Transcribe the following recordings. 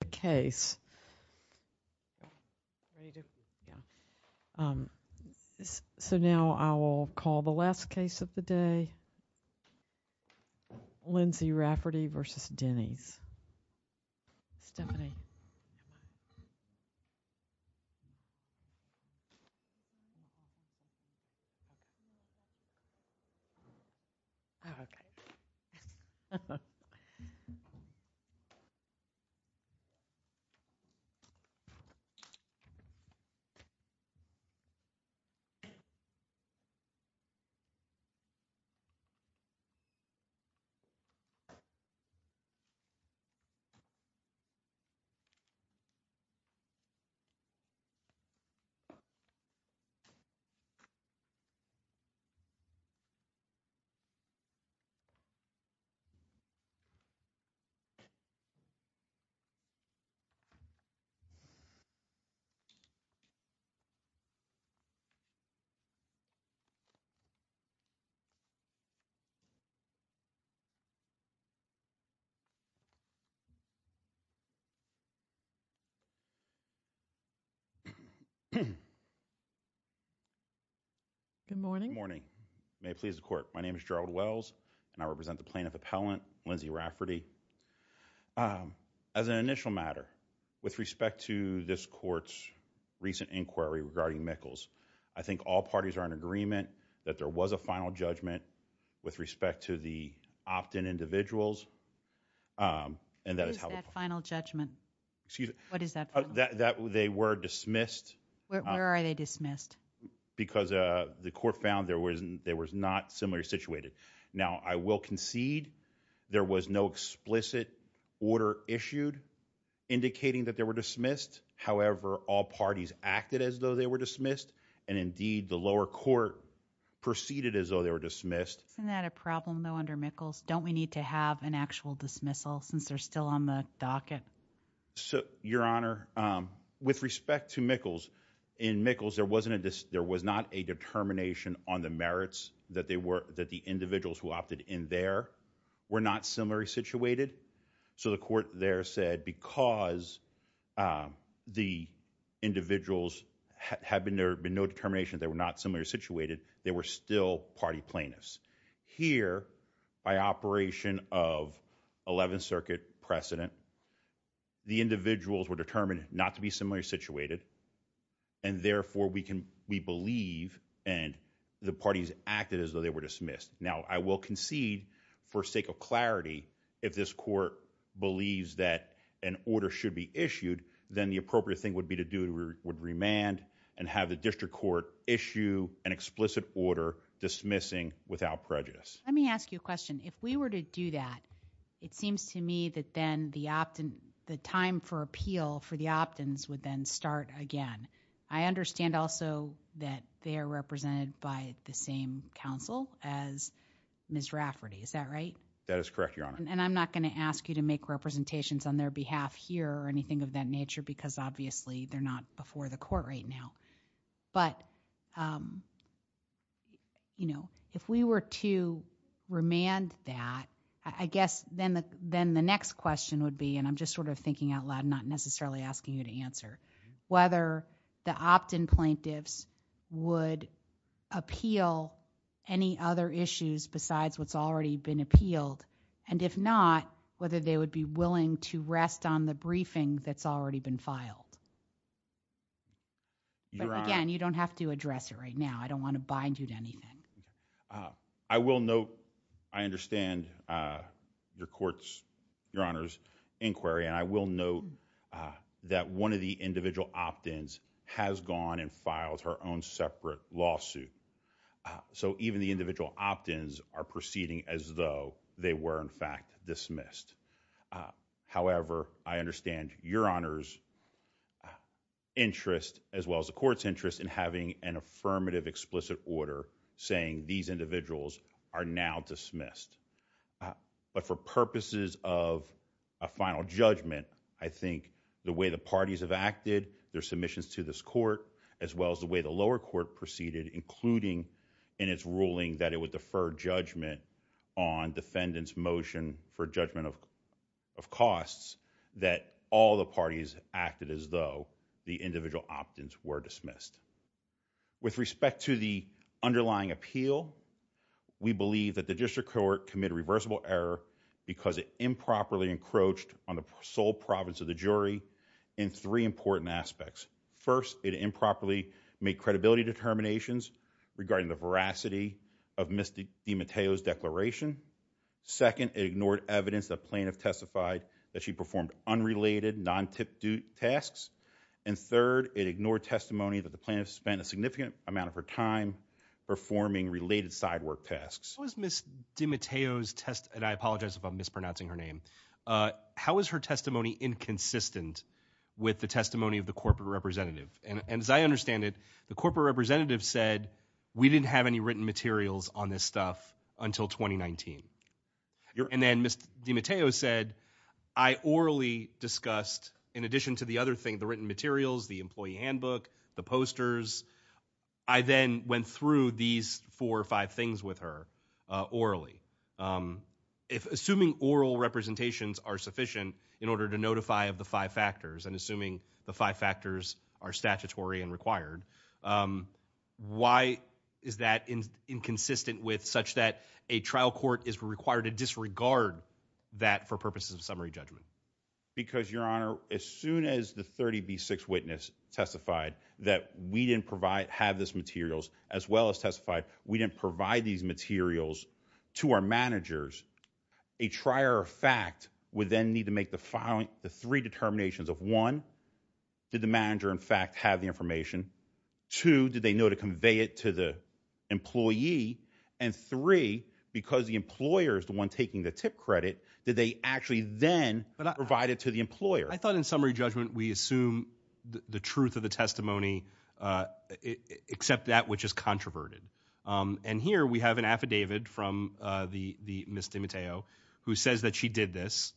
the case. So now I will call the last case of the day, Lindsey Rafferty v. Denny's. Stephanie. Lindsey Rafferty v. Denny's. Good morning. May it please the court. My name is Gerald Wells and I represent the plaintiff appellant, Lindsey Rafferty. As an initial matter, with respect to this court's recent inquiry regarding Mikkels, I think all parties are in agreement that there was a final judgment with respect to the opt-in individuals. And that is how the final judgment. Excuse me. What is that? That they were dismissed. Where are they dismissed? Because the court found there wasn't there was not similarly situated. Now I will concede there was no explicit order issued indicating that there were dismissed. However, all parties acted as though they were dismissed. And indeed, the lower court proceeded as though they were dismissed. Isn't that a problem though under Mikkels? Don't we need to have an actual dismissal since they're still on the docket? So Your Honor, with respect to Mikkels, in Mikkels, there wasn't a there was not a determination on the merits that they were that the individuals who opted in there were not similarly situated. So the court there said because the individuals had been there had been no determination that they were not similarly situated, they were still party plaintiffs. Here, by operation of 11th Circuit precedent, the individuals were determined not to be similarly situated. And therefore, we can we believe and the parties acted as though they were dismissed. Now, I will concede for sake of clarity, if this court believes that an order should be issued, then the appropriate thing would be to do would remand and have the district court issue an explicit order dismissing without prejudice. Let me ask you a question. If we were to do that, it seems to me that then the opt in the time for appeal for the opt ins would then start again. I understand also that they Miss Rafferty, is that right? That is correct, Your Honor. And I'm not going to ask you to make representations on their behalf here or anything of that nature, because obviously they're not before the court right now. But. You know, if we were to remand that, I guess then then the next question would be and I'm just sort of thinking out loud, not necessarily asking you to answer whether the opt in plaintiffs would appeal any other issues besides what's already been appealed, and if not, whether they would be willing to rest on the briefing that's already been filed. Again, you don't have to address it right now. I don't want to bind you to anything. I will note. I understand your courts, Your Honor's inquiry, and I will note that one of the individual opt ins has gone and filed her own separate lawsuit. So even the individual opt ins are proceeding as though they were, in fact, dismissed. However, I understand Your Honor's interest as well as the court's interest in having an affirmative I think the way the parties have acted their submissions to this court as well as the way the lower court proceeded, including in its ruling that it would defer judgment on defendants motion for judgment of of costs that all the parties acted as though the individual opt ins were dismissed. With respect to the underlying appeal, we believe that the district court committed a reversible error because it improperly encroached on the sole province of the jury in three important aspects. First, it improperly made credibility determinations regarding the veracity of Ms. DiMatteo's declaration. Second, it ignored evidence that plaintiff testified that she performed unrelated, non-tip-toot tasks. And third, it ignored testimony that the plaintiff spent a significant amount of her time performing related side work tasks. How is Ms. DiMatteo's testimony, and I apologize if I'm mispronouncing her name. How is her testimony inconsistent with the testimony of the corporate representative? And as I understand it, the corporate representative said, we didn't have any written materials on this stuff until 2019. And then Ms. DiMatteo said, I orally discussed, in addition to the other thing, the written materials, the employee handbook, the posters. I then went through these four or five things with her orally. Assuming oral representations are sufficient in order to notify of the five factors, and assuming the five factors are statutory and required, why is that inconsistent with such that a trial court is required to disregard that for purposes of summary judgment? Because, Your Honor, as soon as the 30B6 witness testified that we didn't have these materials, as well as testified we didn't provide these materials to our managers, a trier of fact would then need to make the three determinations of, one, did the manager, in fact, have the information? Two, did they know to convey it to the employee? And three, because the employer is the one taking the tip credit, did they actually then provide it to the employer? I thought in summary judgment we assume the truth of the testimony, except that which is controverted. And here we have an affidavit from the Ms. DiMatteo who says that she did this.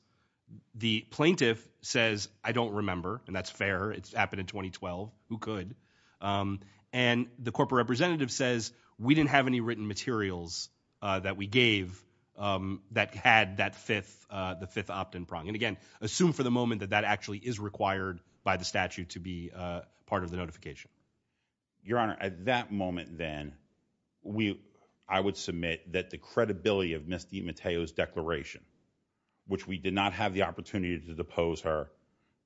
The plaintiff says, I don't remember, and that's fair, it's happened in 2012, who could? And the corporate representative says, we didn't have any written materials that we gave that had that fifth opt-in prong. And again, assume for the moment that that actually is required by the statute to be part of the notification. Your Honor, at that moment then, I would submit that the credibility of Ms. DiMatteo's declaration, which we did not have the opportunity to depose her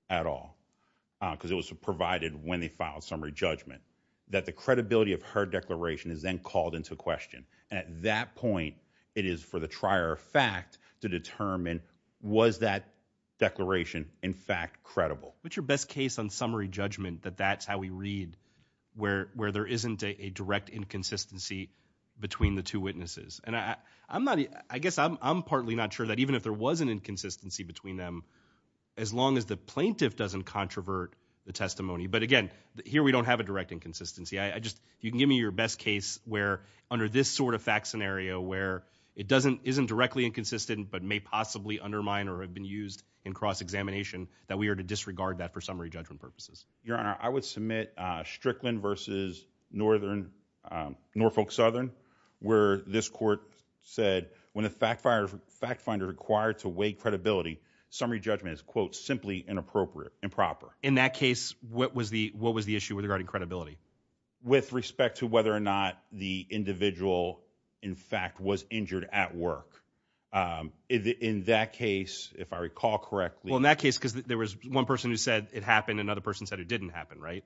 at all, because it was provided when they filed summary judgment, that the credibility of her declaration is then called into question. And at that point, it is for the trier of fact to determine was that declaration in fact credible. What's your best case on summary judgment that that's how we read, where there isn't a direct inconsistency between the two witnesses? And I guess I'm partly not sure that even if there was an inconsistency between them, as long as the plaintiff doesn't controvert the testimony. But again, here we don't have a direct inconsistency. You can give me your best case where under this sort of fact scenario, where it isn't directly inconsistent, but may possibly undermine or have been used in cross-examination, that we are to disregard that for summary judgment purposes. Your Honor, I would submit Strickland versus Norfolk Southern, where this court said when a fact finder required to weigh credibility, summary judgment is, quote, simply inappropriate, improper. In that case, what was the issue regarding credibility? With respect to whether or not the individual, in fact, was injured at work. In that case, if I recall correctly. Well, in that case, because there was one person who said it happened. Another person said it didn't happen, right?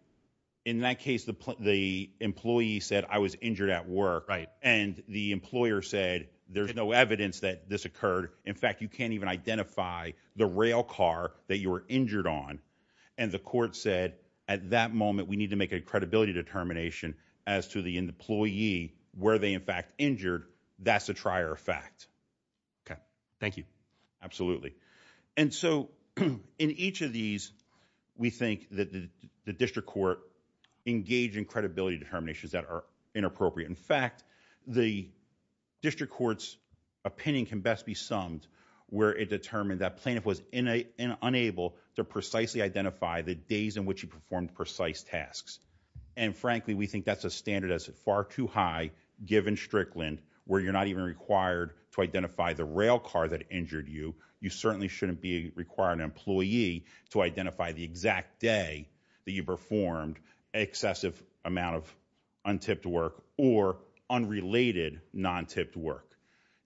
In that case, the employee said I was injured at work. Right. And the employer said there's no evidence that this occurred. In fact, you can't even identify the rail car that you were injured on. And the court said at that moment, we need to make a credibility determination as to the employee where they, in fact, injured. That's a trier fact. Okay. Thank you. Absolutely. And so in each of these, we think that the district court engaged in credibility determinations that are inappropriate. In fact, the district court's opinion can best be summed where it determined that plaintiff was unable to precisely identify the days in which he performed precise tasks. And frankly, we think that's a standard that's far too high, given Strickland, where you're not even required to identify the rail car that injured you. You certainly shouldn't be requiring an employee to identify the exact day that you performed excessive amount of untipped work or unrelated non-tipped work.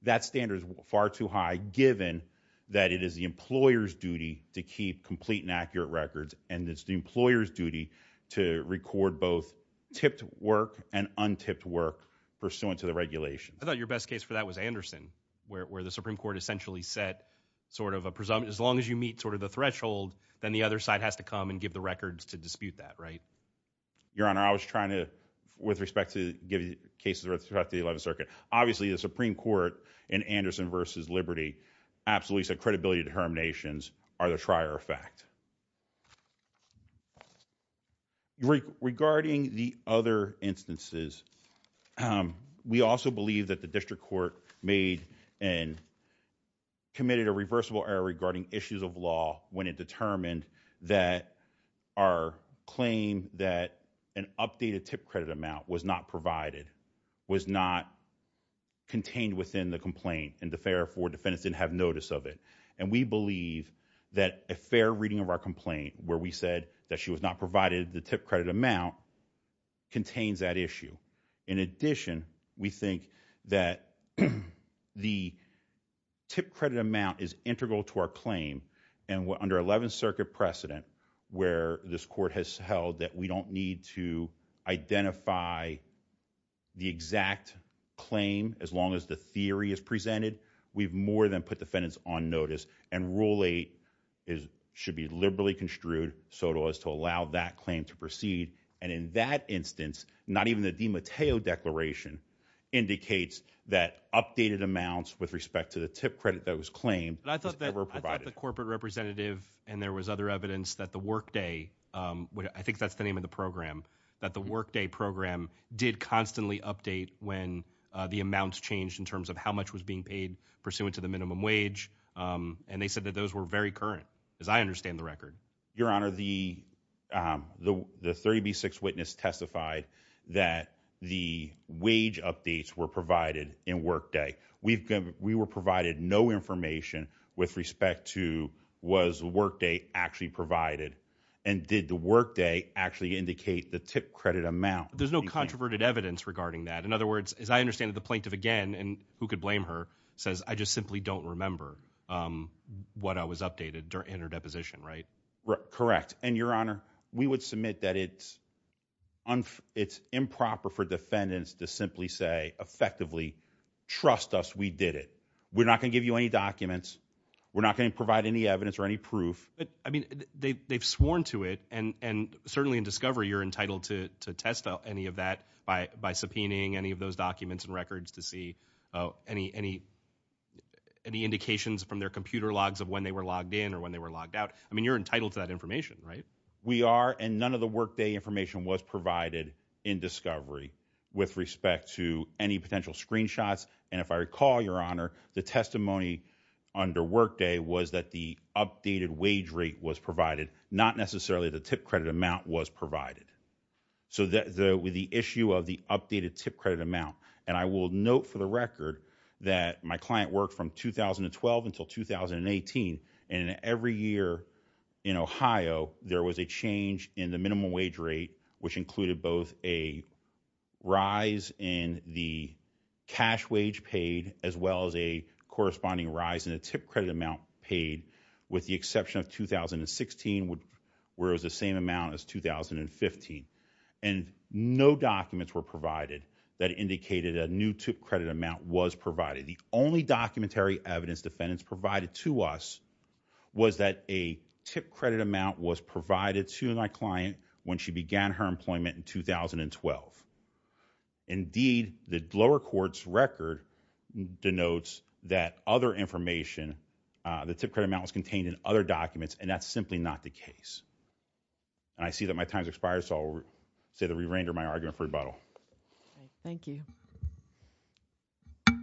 That standard is far too high, given that it is the employer's duty to keep complete and accurate records, and it's the employer's duty to record both tipped work and untipped work pursuant to the regulation. I thought your best case for that was Anderson, where the Supreme Court essentially set sort of a presumption. As long as you meet sort of the threshold, then the other side has to come and give the records to dispute that, right? Your Honor, I was trying to, with respect to cases throughout the 11th Circuit, obviously the Supreme Court in Anderson versus Liberty absolutely said credibility determinations are the trier effect. Regarding the other instances, we also believe that the district court made and committed a reversible error regarding issues of law when it determined that our claim that an updated tip credit amount was not provided, was not contained within the complaint, and therefore defendants didn't have notice of it. And we believe that a fair reading of our complaint, where we said that she was not provided the tip credit amount, contains that issue. In addition, we think that the tip credit amount is integral to our claim, and under 11th Circuit precedent, where this court has held that we don't need to identify the exact claim as long as the theory is presented, we've more than put defendants on notice. And Rule 8 should be liberally construed so as to allow that claim to proceed. And in that instance, not even the DiMatteo Declaration indicates that updated amounts with respect to the tip credit that was claimed were provided. The corporate representative, and there was other evidence that the Workday, I think that's the name of the program, that the Workday program did constantly update when the amounts changed in terms of how much was being paid pursuant to the minimum wage, and they said that those were very current, as I understand the record. Your Honor, the 30B6 witness testified that the wage updates were provided in Workday. We were provided no information with respect to was Workday actually provided, and did the Workday actually indicate the tip credit amount? There's no controverted evidence regarding that. In other words, as I understand it, the plaintiff again, and who could blame her, says, I just simply don't remember what was updated in her deposition, right? Correct. And Your Honor, we would submit that it's improper for defendants to simply say, effectively, trust us, we did it. We're not going to give you any documents. We're not going to provide any evidence or any proof. I mean, they've sworn to it, and certainly in discovery, you're entitled to test any of that by subpoenaing any of those documents and records to see any indications from their computer logs of when they were logged in or when they were logged out. I mean, you're entitled to that information, right? We are, and none of the Workday information was provided in discovery with respect to any potential screenshots. And if I recall, Your Honor, the testimony under Workday was that the updated wage rate was provided, not necessarily the tip credit amount was provided. So with the issue of the updated tip credit amount, and I will note for the record that my client worked from 2012 until 2018, and every year in Ohio, there was a change in the minimum wage rate, which included both a rise in the cash wage paid as well as a corresponding rise in the tip credit amount paid, with the exception of 2016, where it was the same amount as 2015. And no documents were provided that indicated a new tip credit amount was provided. The only documentary evidence defendants provided to us was that a tip credit amount was provided to my client when she began her employment in 2012. Indeed, the lower court's record denotes that other information, the tip credit amount was contained in other documents, and that's simply not the case. And I see that my time has expired, so I will say that we render my argument for rebuttal. Thank you. Good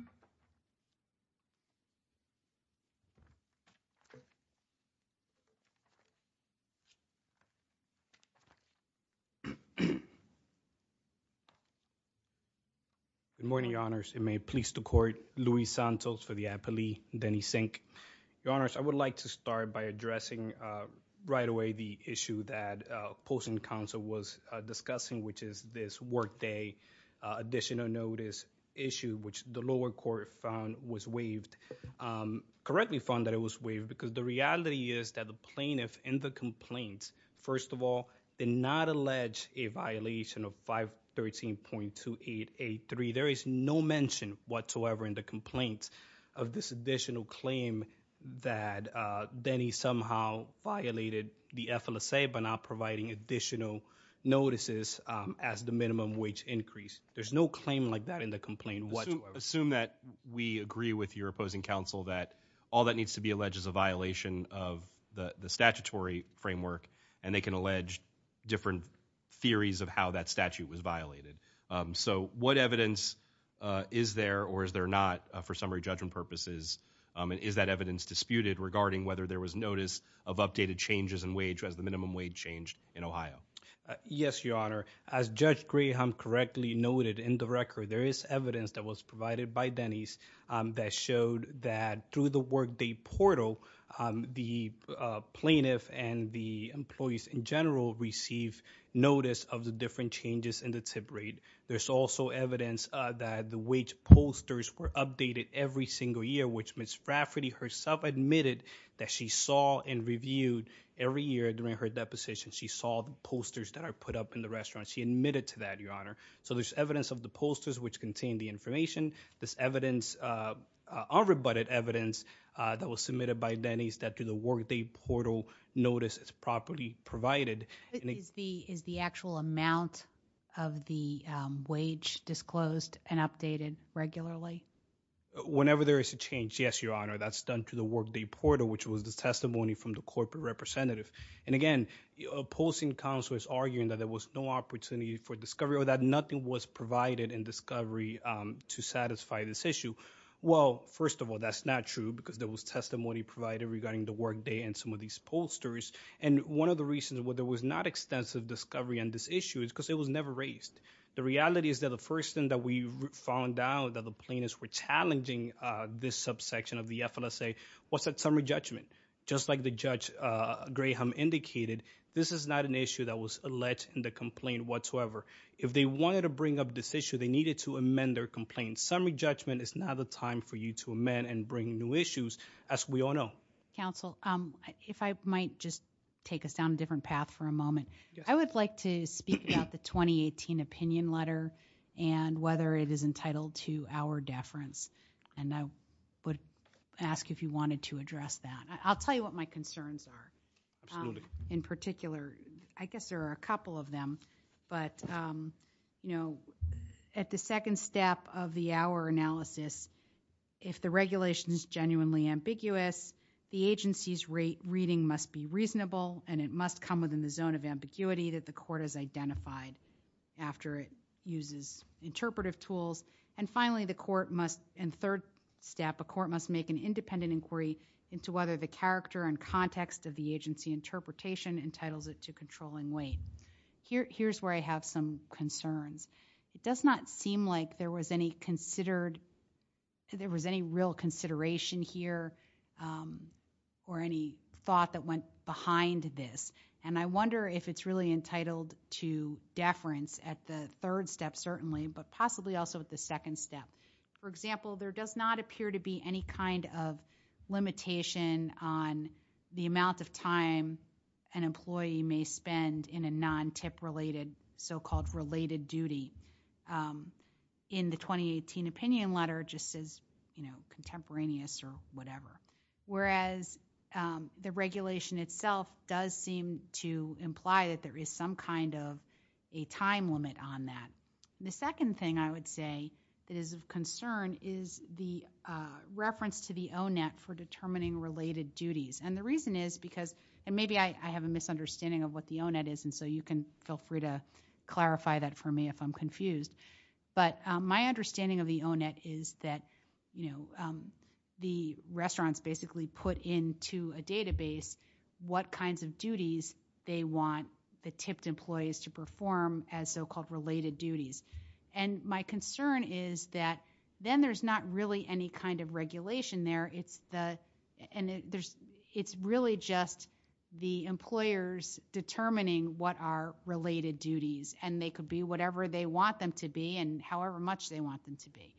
morning, Your Honors, and may it please the Court, Luis Santos for the appellee, Denny Sink. Your Honors, I would like to start by addressing right away the issue that worked a additional notice issue, which the lower court found was waived, correctly found that it was waived, because the reality is that the plaintiff in the complaint, first of all, did not allege a violation of 513.2883. There is no mention whatsoever in the complaint of this additional claim that Denny somehow violated the FLSA by not providing additional notices as the minimum wage increased. There's no claim like that in the complaint. Assume that we agree with your opposing counsel that all that needs to be alleged is a violation of the statutory framework, and they can allege different theories of how that statute was violated. So, what evidence is there or is there not for summary judgment purposes, and is that evidence disputed regarding whether there was notice of updated changes in wage as minimum wage changed in Ohio? Yes, Your Honor. As Judge Graham correctly noted in the record, there is evidence that was provided by Denny's that showed that through the workday portal, the plaintiff and the employees in general received notice of the different changes in the tip rate. There's also evidence that the wage pollsters were updated every single year, which Ms. Rafferty herself admitted that she saw and reviewed every year during her deposition. She saw the pollsters that are put up in the restaurant. She admitted to that, Your Honor. So, there's evidence of the pollsters which contain the information. This evidence, unrebutted evidence that was submitted by Denny's that through the workday portal notice is properly provided. Is the actual amount of the wage disclosed and updated regularly? Whenever there is a change, yes, Your Honor. That's done through the workday portal, which was the testimony from the corporate representative. And again, opposing counsel is arguing that there was no opportunity for discovery or that nothing was provided in discovery to satisfy this issue. Well, first of all, that's not true because there was testimony provided regarding the workday and some of these pollsters. And one of the reasons why there was not extensive discovery on this issue is because it was never raised. The reality is that the first thing that we found out that the were challenging this subsection of the FLSA was that summary judgment. Just like the judge Graham indicated, this is not an issue that was alleged in the complaint whatsoever. If they wanted to bring up this issue, they needed to amend their complaint. Summary judgment is not the time for you to amend and bring new issues as we all know. Counsel, if I might just take us down a different path for a moment. I would like to speak about the 2018 opinion letter and whether it is entitled to our deference. And I would ask if you wanted to address that. I'll tell you what my concerns are in particular. I guess there are a couple of them. But at the second step of the hour analysis, if the regulation is genuinely ambiguous, the agency's reading must be reasonable and it must come within the zone of ambiguity that the court has identified after it uses interpretive tools. And finally, the court must in third step, a court must make an independent inquiry into whether the character and context of the agency interpretation entitles it to controlling weight. Here's where I have some concerns. It does not seem like there was any real consideration here or any thought that went behind this. And I wonder if it's really entitled to deference at the third step, certainly, but possibly also at the second step. For example, there does not appear to be any kind of limitation on the amount of time an employee may spend in a non-TIP related so-called related duty. In the 2018 opinion letter, just as contemporaneous or a time limit on that. The second thing I would say that is of concern is the reference to the O-net for determining related duties. And the reason is because maybe I have a misunderstanding of what the O-net is and so you can feel free to clarify that for me if I'm confused. But my understanding of the O-net is that the restaurants basically put into a database what kinds of duties they want the TIP employees to perform as so-called related duties. And my concern is that then there's not really any kind of regulation there. It's really just the employers determining what are related duties and they could be whatever they want them to be and however much they want them to be.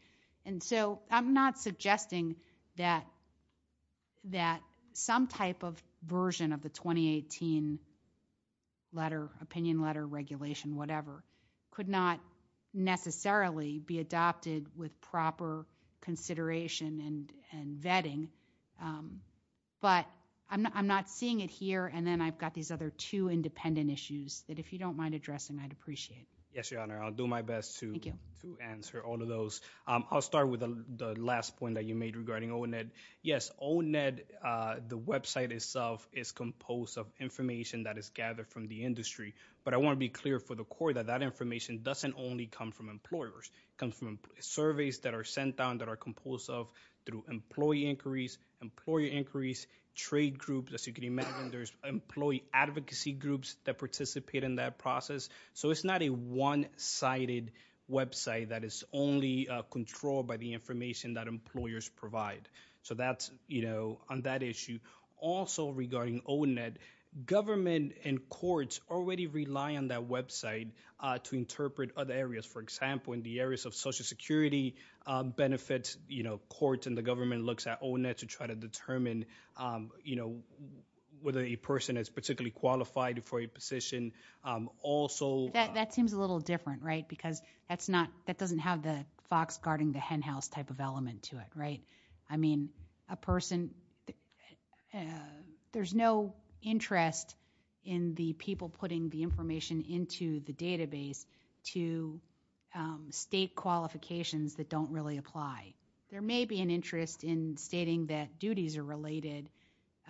And so I'm not suggesting that some type of version of the 2018 letter, opinion letter regulation, whatever, could not necessarily be adopted with proper consideration and vetting. But I'm not seeing it here and then I've got these other two independent issues that if you don't address them I'd appreciate it. Yes, your honor. I'll do my best to answer all of those. I'll start with the last point that you made regarding O-net. Yes, O-net, the website itself is composed of information that is gathered from the industry. But I want to be clear for the court that that information doesn't only come from employers. It comes from surveys that are sent down that are composed of through employee inquiries, employer inquiries, trade groups, as you can imagine there's employee advocacy groups that participate in that process. So it's not a one-sided website that is only controlled by the information that employers provide. So that's, you know, on that issue. Also regarding O-net, government and courts already rely on that website to interpret other areas. For example, in the areas of social security benefits, you know, courts and the government looks at O-net to try to determine, you know, whether a person is particularly qualified for a position. Also, that seems a little different, right? Because that's not, that doesn't have the fox guarding the hen house type of element to it, right? I mean a person, there's no interest in the people putting the information into the database to state qualifications that don't really apply. There may be an interest in stating that duties are related, if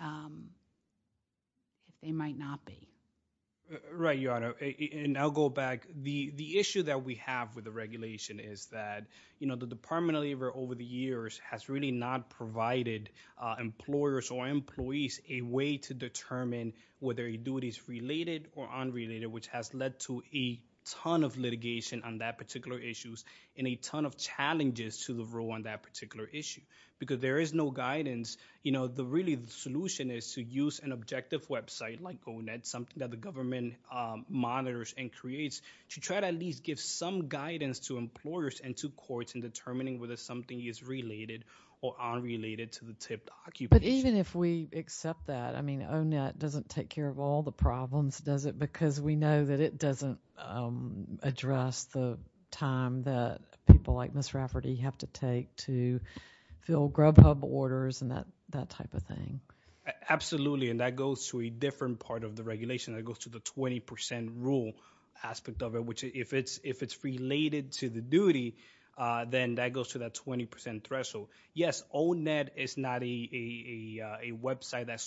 they might not be. Right, your honor, and I'll go back. The issue that we have with the regulation is that, you know, the Department of Labor over the years has really not provided employers or employees a way to determine whether a duty is related or unrelated, which has led to a ton of litigation on that particular issues and a ton of challenges to the role on that particular issue. Because there is no guidance, you know, the really solution is to use an objective website like O-net, something that the government monitors and creates, to try to at least give some guidance to employers and to courts in determining whether something is related or unrelated to the tipped occupation. But even if we accept that, I mean O-net doesn't take care of all the problems, does it? Because we know that it doesn't address the time that people like Ms. Rafferty have to take to fill Grubhub orders and that type of thing. Absolutely, and that goes to a different part of the regulation. That goes to the 20 percent rule aspect of it, which if it's related to the duty, then that goes to that 20 percent threshold. Yes, O-net is not a website that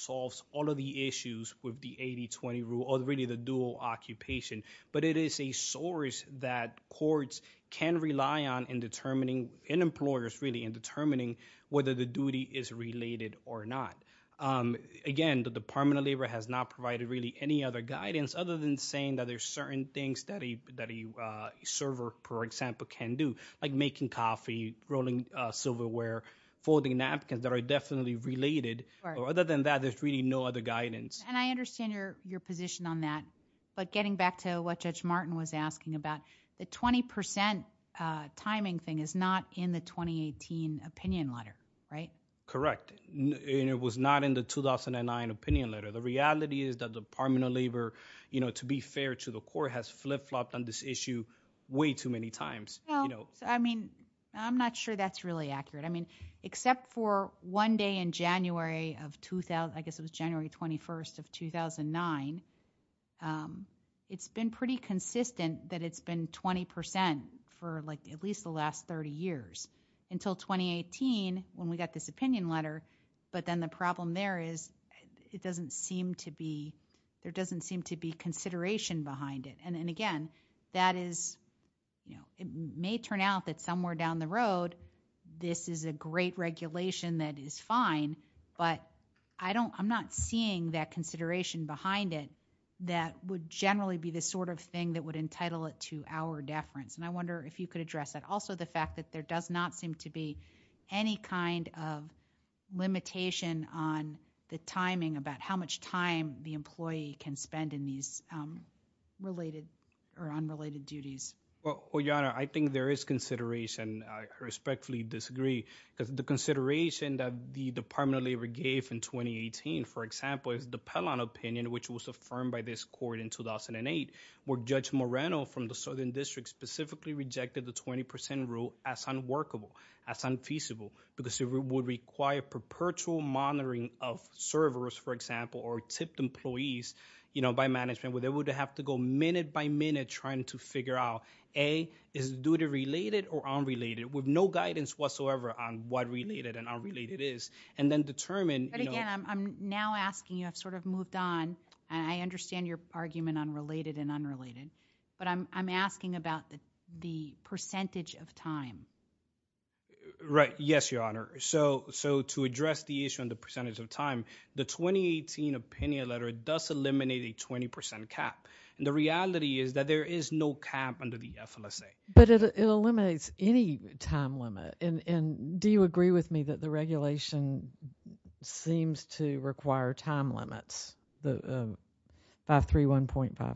really does the dual occupation, but it is a source that courts can rely on in determining, in employers really, in determining whether the duty is related or not. Again, the Department of Labor has not provided really any other guidance other than saying that there's certain things that a server, for example, can do, like making coffee, rolling silverware, folding napkins that are definitely related. Other than that, there's really no other guidance. And I understand your position on that, but getting back to what Judge Martin was asking about, the 20 percent timing thing is not in the 2018 opinion letter, right? Correct, and it was not in the 2009 opinion letter. The reality is that the Department of Labor, to be fair to the court, has flip-flopped on this issue way too many times. I mean, I'm not sure that's really accurate. I mean, except for one day in January of, I guess it was January 21st of 2009, it's been pretty consistent that it's been 20 percent for like at least the last 30 years. Until 2018, when we got this opinion letter, but then the problem there is it doesn't seem to be, there doesn't seem to be consideration behind it. And again, that is, you know, it may turn out that somewhere down the road, this is a great regulation that is fine, but I don't, I'm not seeing that consideration behind it that would generally be the sort of thing that would entitle it to our deference. And I wonder if you could address that. Also, the fact that there does not seem to be any kind of limitation on the timing about how much time the employee can spend in these related or unrelated duties. Well, Your Honor, I think there is consideration. I respectfully disagree, because the consideration that the Department of Labor gave in 2018, for example, is the Pellon opinion, which was affirmed by this court in 2008, where Judge Moreno from the Southern District specifically rejected the 20 percent rule as unworkable, as unfeasible, because it would require perpetual monitoring of servers, for example, or tipped employees, you know, by management, where they would have to go minute by minute trying to figure out, A, is the duty related or unrelated, with no guidance whatsoever on what related and unrelated is, and then determine, But again, I'm now asking you, I've sort of moved on, and I understand your argument on related and unrelated, but I'm asking about the percentage of time. Right. Yes, Your Honor. So, to address the issue on the percentage of time, the 2018 opinion letter does eliminate a 20 percent cap, and the reality is that there is no cap under the FLSA. But it eliminates any time limit, and do you agree with me that the regulation seems to require time limits, the 531.56?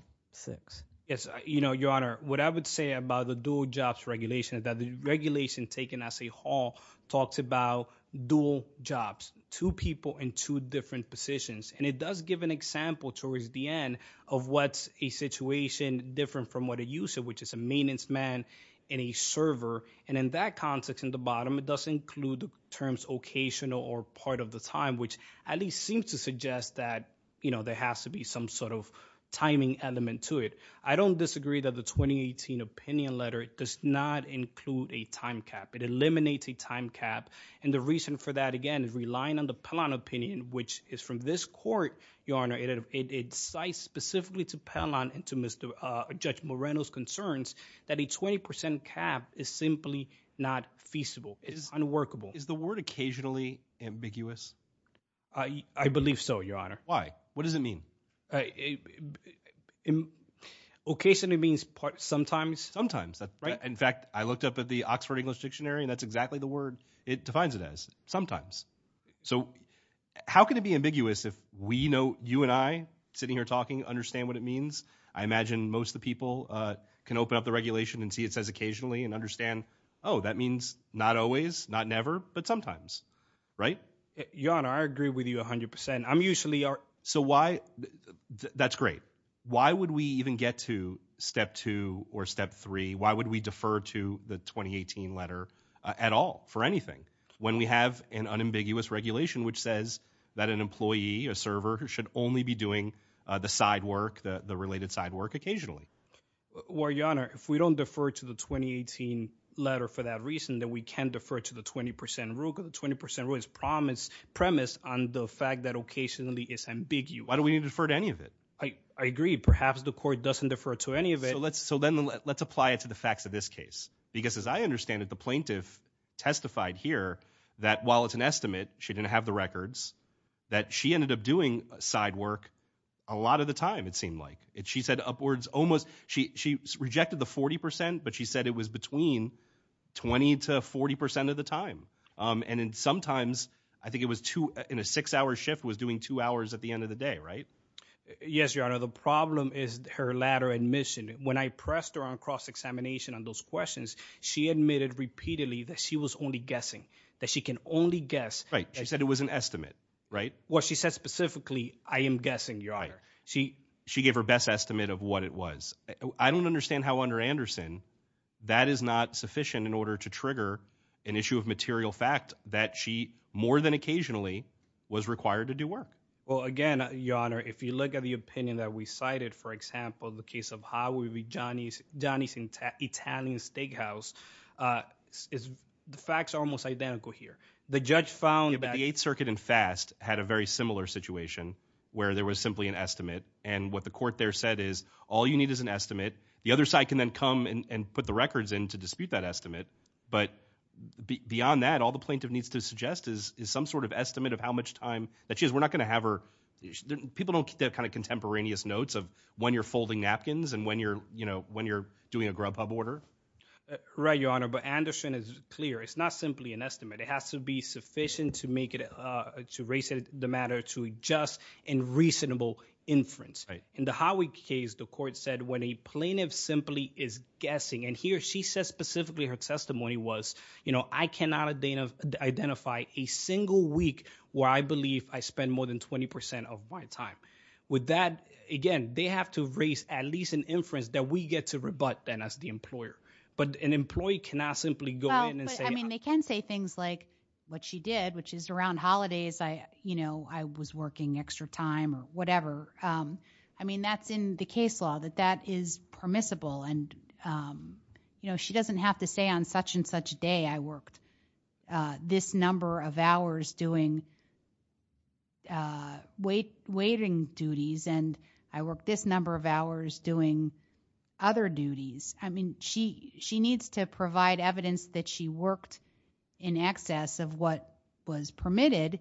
Yes. You know, Your Honor, what I would say about the dual jobs regulation is that the regulation taken at the hall talks about dual jobs, two people in two different positions, and it does give an example towards the end of what's a situation different from what a user, which is a maintenance man in a server, and in that context in the bottom, it does include the terms occasional or part of the time, which at least seems to suggest that, you know, there has to be some sort of timing element to it. I don't disagree that the 2018 opinion letter does not include a time cap. It eliminates a time cap, and the reason for that, again, is relying on the Pellon opinion, which is from this court, Your Honor, it incites specifically to Pellon and to Judge Moreno's concerns that a 20 percent cap is simply not feasible. It's unworkable. Is the word occasionally ambiguous? I believe so, Your Honor. Why? What does it mean? Occasionally means sometimes. Sometimes. In fact, I looked up at the Oxford English dictionary, and that's exactly the word it defines it as, sometimes. So how can it be ambiguous if we know, you and I sitting here talking, understand what it means? I imagine most of the people can open up the regulation and see it says occasionally and understand, oh, that means not always, not never, but sometimes, right? Your Honor, I agree with you 100 percent. I'm usually... So why, that's great. Why would we even get to step two or step three? Why would we defer to the 2018 letter at all, for anything, when we have an unambiguous regulation which says that an employee, a server, should only be doing the side work, the related side work, occasionally? Well, Your Honor, if we don't defer to the 2018 letter for that reason, then we can't defer to the 20 percent rule, because the 20 percent rule is promised, premised on the fact that occasionally is ambiguous. Why do we need to defer to any of it? I agree. Perhaps the court doesn't defer to any of it. So let's apply it to the facts of this case. Because as I understand it, the plaintiff testified here that while it's an estimate, she didn't have the records, that she ended up doing side work a lot of the time, it seemed like. She said upwards, almost, she rejected the 40 percent, but she said it was between 20 to 40 percent of the time. And sometimes, I think it was two, in a six-hour shift, was doing two hours at the end of the day, right? Yes, Your Honor. The problem is her latter admission. When I pressed her on cross-examination on those questions, she admitted repeatedly that she was only guessing, that she can only guess. Right. She said it was an estimate, right? Well, she said specifically, I am guessing, Your Honor. She gave her best estimate of what it was. I don't understand how under Anderson, that is not sufficient in order to trigger an issue of material fact that she, more than occasionally, was required to do work. Well, again, Your Honor, if you look at the opinion that we cited, for example, the case of how it would be Johnny's Italian Steakhouse, the facts are almost identical here. The judge found that... The Eighth Circuit and FAST had a very similar situation, where there was simply an estimate. And what the court there said is, all you need is an estimate. The other side can then come and put the records in to dispute that estimate. But beyond that, all the plaintiff needs to suggest is some sort of estimate of how much time that she has. We're not going to have her... People don't keep that kind of contemporaneous notes of when you're folding napkins and when you're doing a grubhub order. Right, Your Honor, but Anderson is clear. It's not simply an estimate. It has to be sufficient to make it, to raise the matter to a just and reasonable inference. Right. In the Howick case, the court said when a plaintiff simply is guessing, and here she says specifically her testimony was, I cannot identify a single week where I believe I spend more than 20% of my time. With that, again, they have to raise at least an inference that we get to rebut then as the employer. But an employee cannot simply go in and say... Well, but I mean, they can say things like what she did, which is around holidays, I was working extra time or whatever. I mean, that's in the case law, that that is permissible. She doesn't have to say on such and such day, I worked this number of hours doing waiting duties, and I worked this number of hours doing other duties. I mean, she needs to provide evidence that she worked in excess of what was permitted,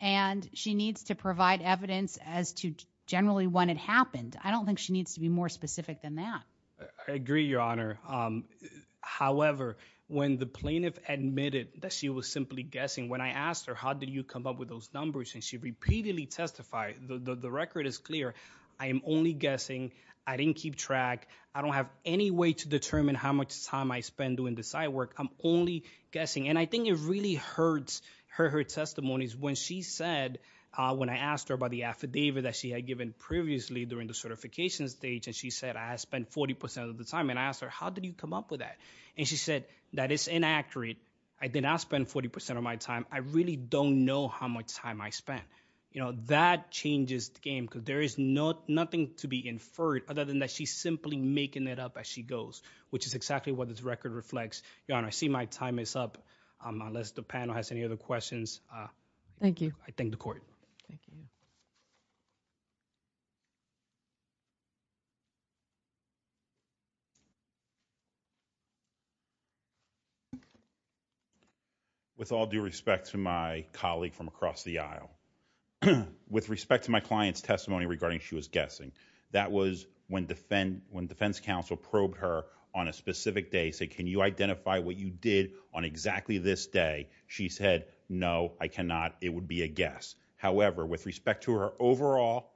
and she needs to provide evidence as to generally when it happened. I don't think she needs to be more specific than that. I agree, Your Honor. However, when the plaintiff admitted that she was simply guessing, when I asked her, how did you come up with those numbers, and she repeatedly testified, the record is clear. I am only guessing. I didn't keep track. I don't have any way to determine how much time I spent doing the side work. I'm only guessing. And I think it really hurts her testimonies when she said, when I asked her about the affidavit that she had given previously during the certification stage, and she said, I spent 40% of the time. And I asked her, how did you come up with that? And she said, that is inaccurate. I did not spend 40% of my time. I really don't know how much time I spent. That changes the inferred, other than that she's simply making it up as she goes, which is exactly what this record reflects. Your Honor, I see my time is up, unless the panel has any other questions. Thank you. I thank the court. Thank you. With respect to my client's testimony regarding she was guessing, that was when defense counsel probed her on a specific day, say, can you identify what you did on exactly this day? She said, no, I cannot. It would be a guess. However, with respect to her overall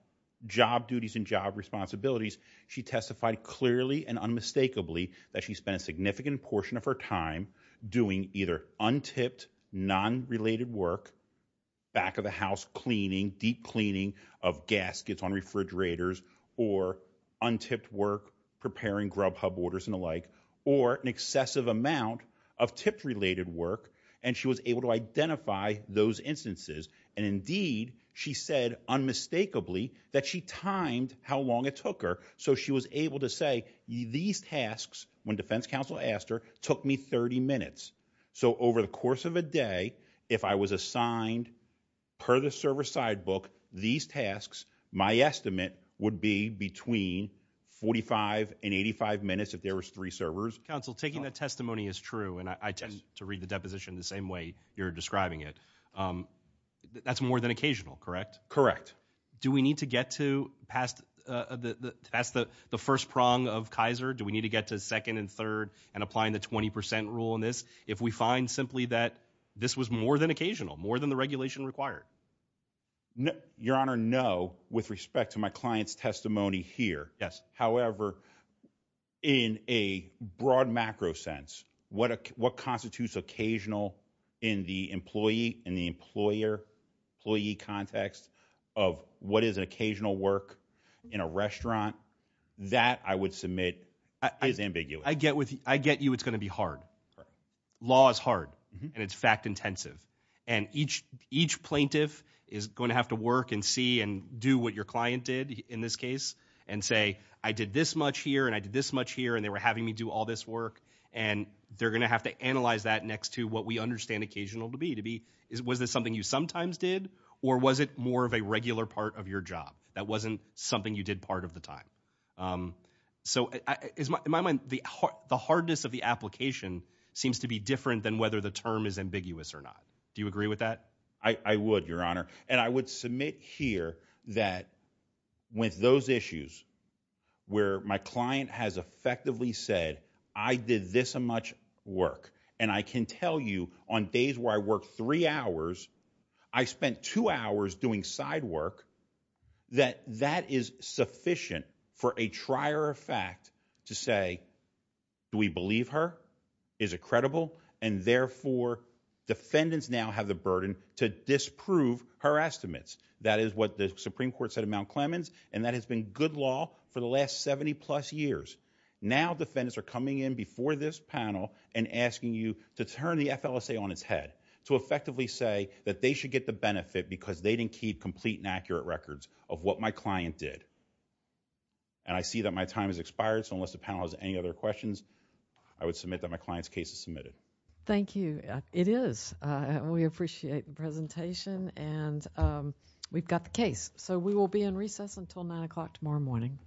job duties and job responsibilities, she testified clearly and unmistakably that she spent a significant portion of her time doing either un-tipped, non-related work, back of the house cleaning, deep cleaning of gaskets on refrigerators, or un-tipped work preparing grub hub orders and the like, or an excessive amount of tipped related work. And she was able to identify those instances. And indeed, she said unmistakably that she timed how long it took her. So she was able to say, these tasks, when defense counsel asked her, took me 30 minutes. So over the course of a day, if I was assigned, per the server side book, these tasks, my estimate would be between 45 and 85 minutes if there was three servers. Counsel, taking that testimony is true, and I tend to read the deposition the same way you're describing it. That's more than occasional, correct? Correct. Do we need to get to past the first prong of Kaiser? Do we need to get to second and third and apply the 20% rule in this if we find simply that this was more than occasional, more than the regulation required? Your Honor, no, with respect to my client's testimony here. Yes. However, in a broad macro sense, what constitutes occasional in the employee, in the employer, employee context of what is an occasional work in a restaurant, that I would submit is ambiguous. I get you it's going to be hard. Law is hard, and it's fact intensive. And each plaintiff is going to have to work and see and do what your client did in this case and say, I did this much here, and I did this much here, and they were having me do all this work. And they're going to have to analyze that next to what we understand occasional to be, was this something you sometimes did, or was it more of a regular part of your job? That wasn't something you did part of the time. So in my mind, the hardness of the application seems to be different than whether the term is ambiguous or not. Do you agree with that? I would, Your Honor. And I would submit here that with those issues where my client has effectively said, I did this much work, and I can tell you on days where I worked three hours, I spent two hours doing side work, that that is sufficient for a trier of fact to say, do we believe her? Is it credible? And therefore, defendants now have the burden to disprove her estimates. That is what the Supreme Court said at Mount Clemens, and that has been good law for the last 70 plus years. Now defendants are coming in before this panel and asking you to turn the FLSA on its head, to effectively say that they should get the benefit because they didn't keep complete and accurate records of what my client did. And I see that my time has expired, so unless the panel has any other questions, I would submit that my client's case is submitted. Thank you. It is. We appreciate the presentation, and we've got the case. So we will be in recess until 9 o'clock tomorrow morning.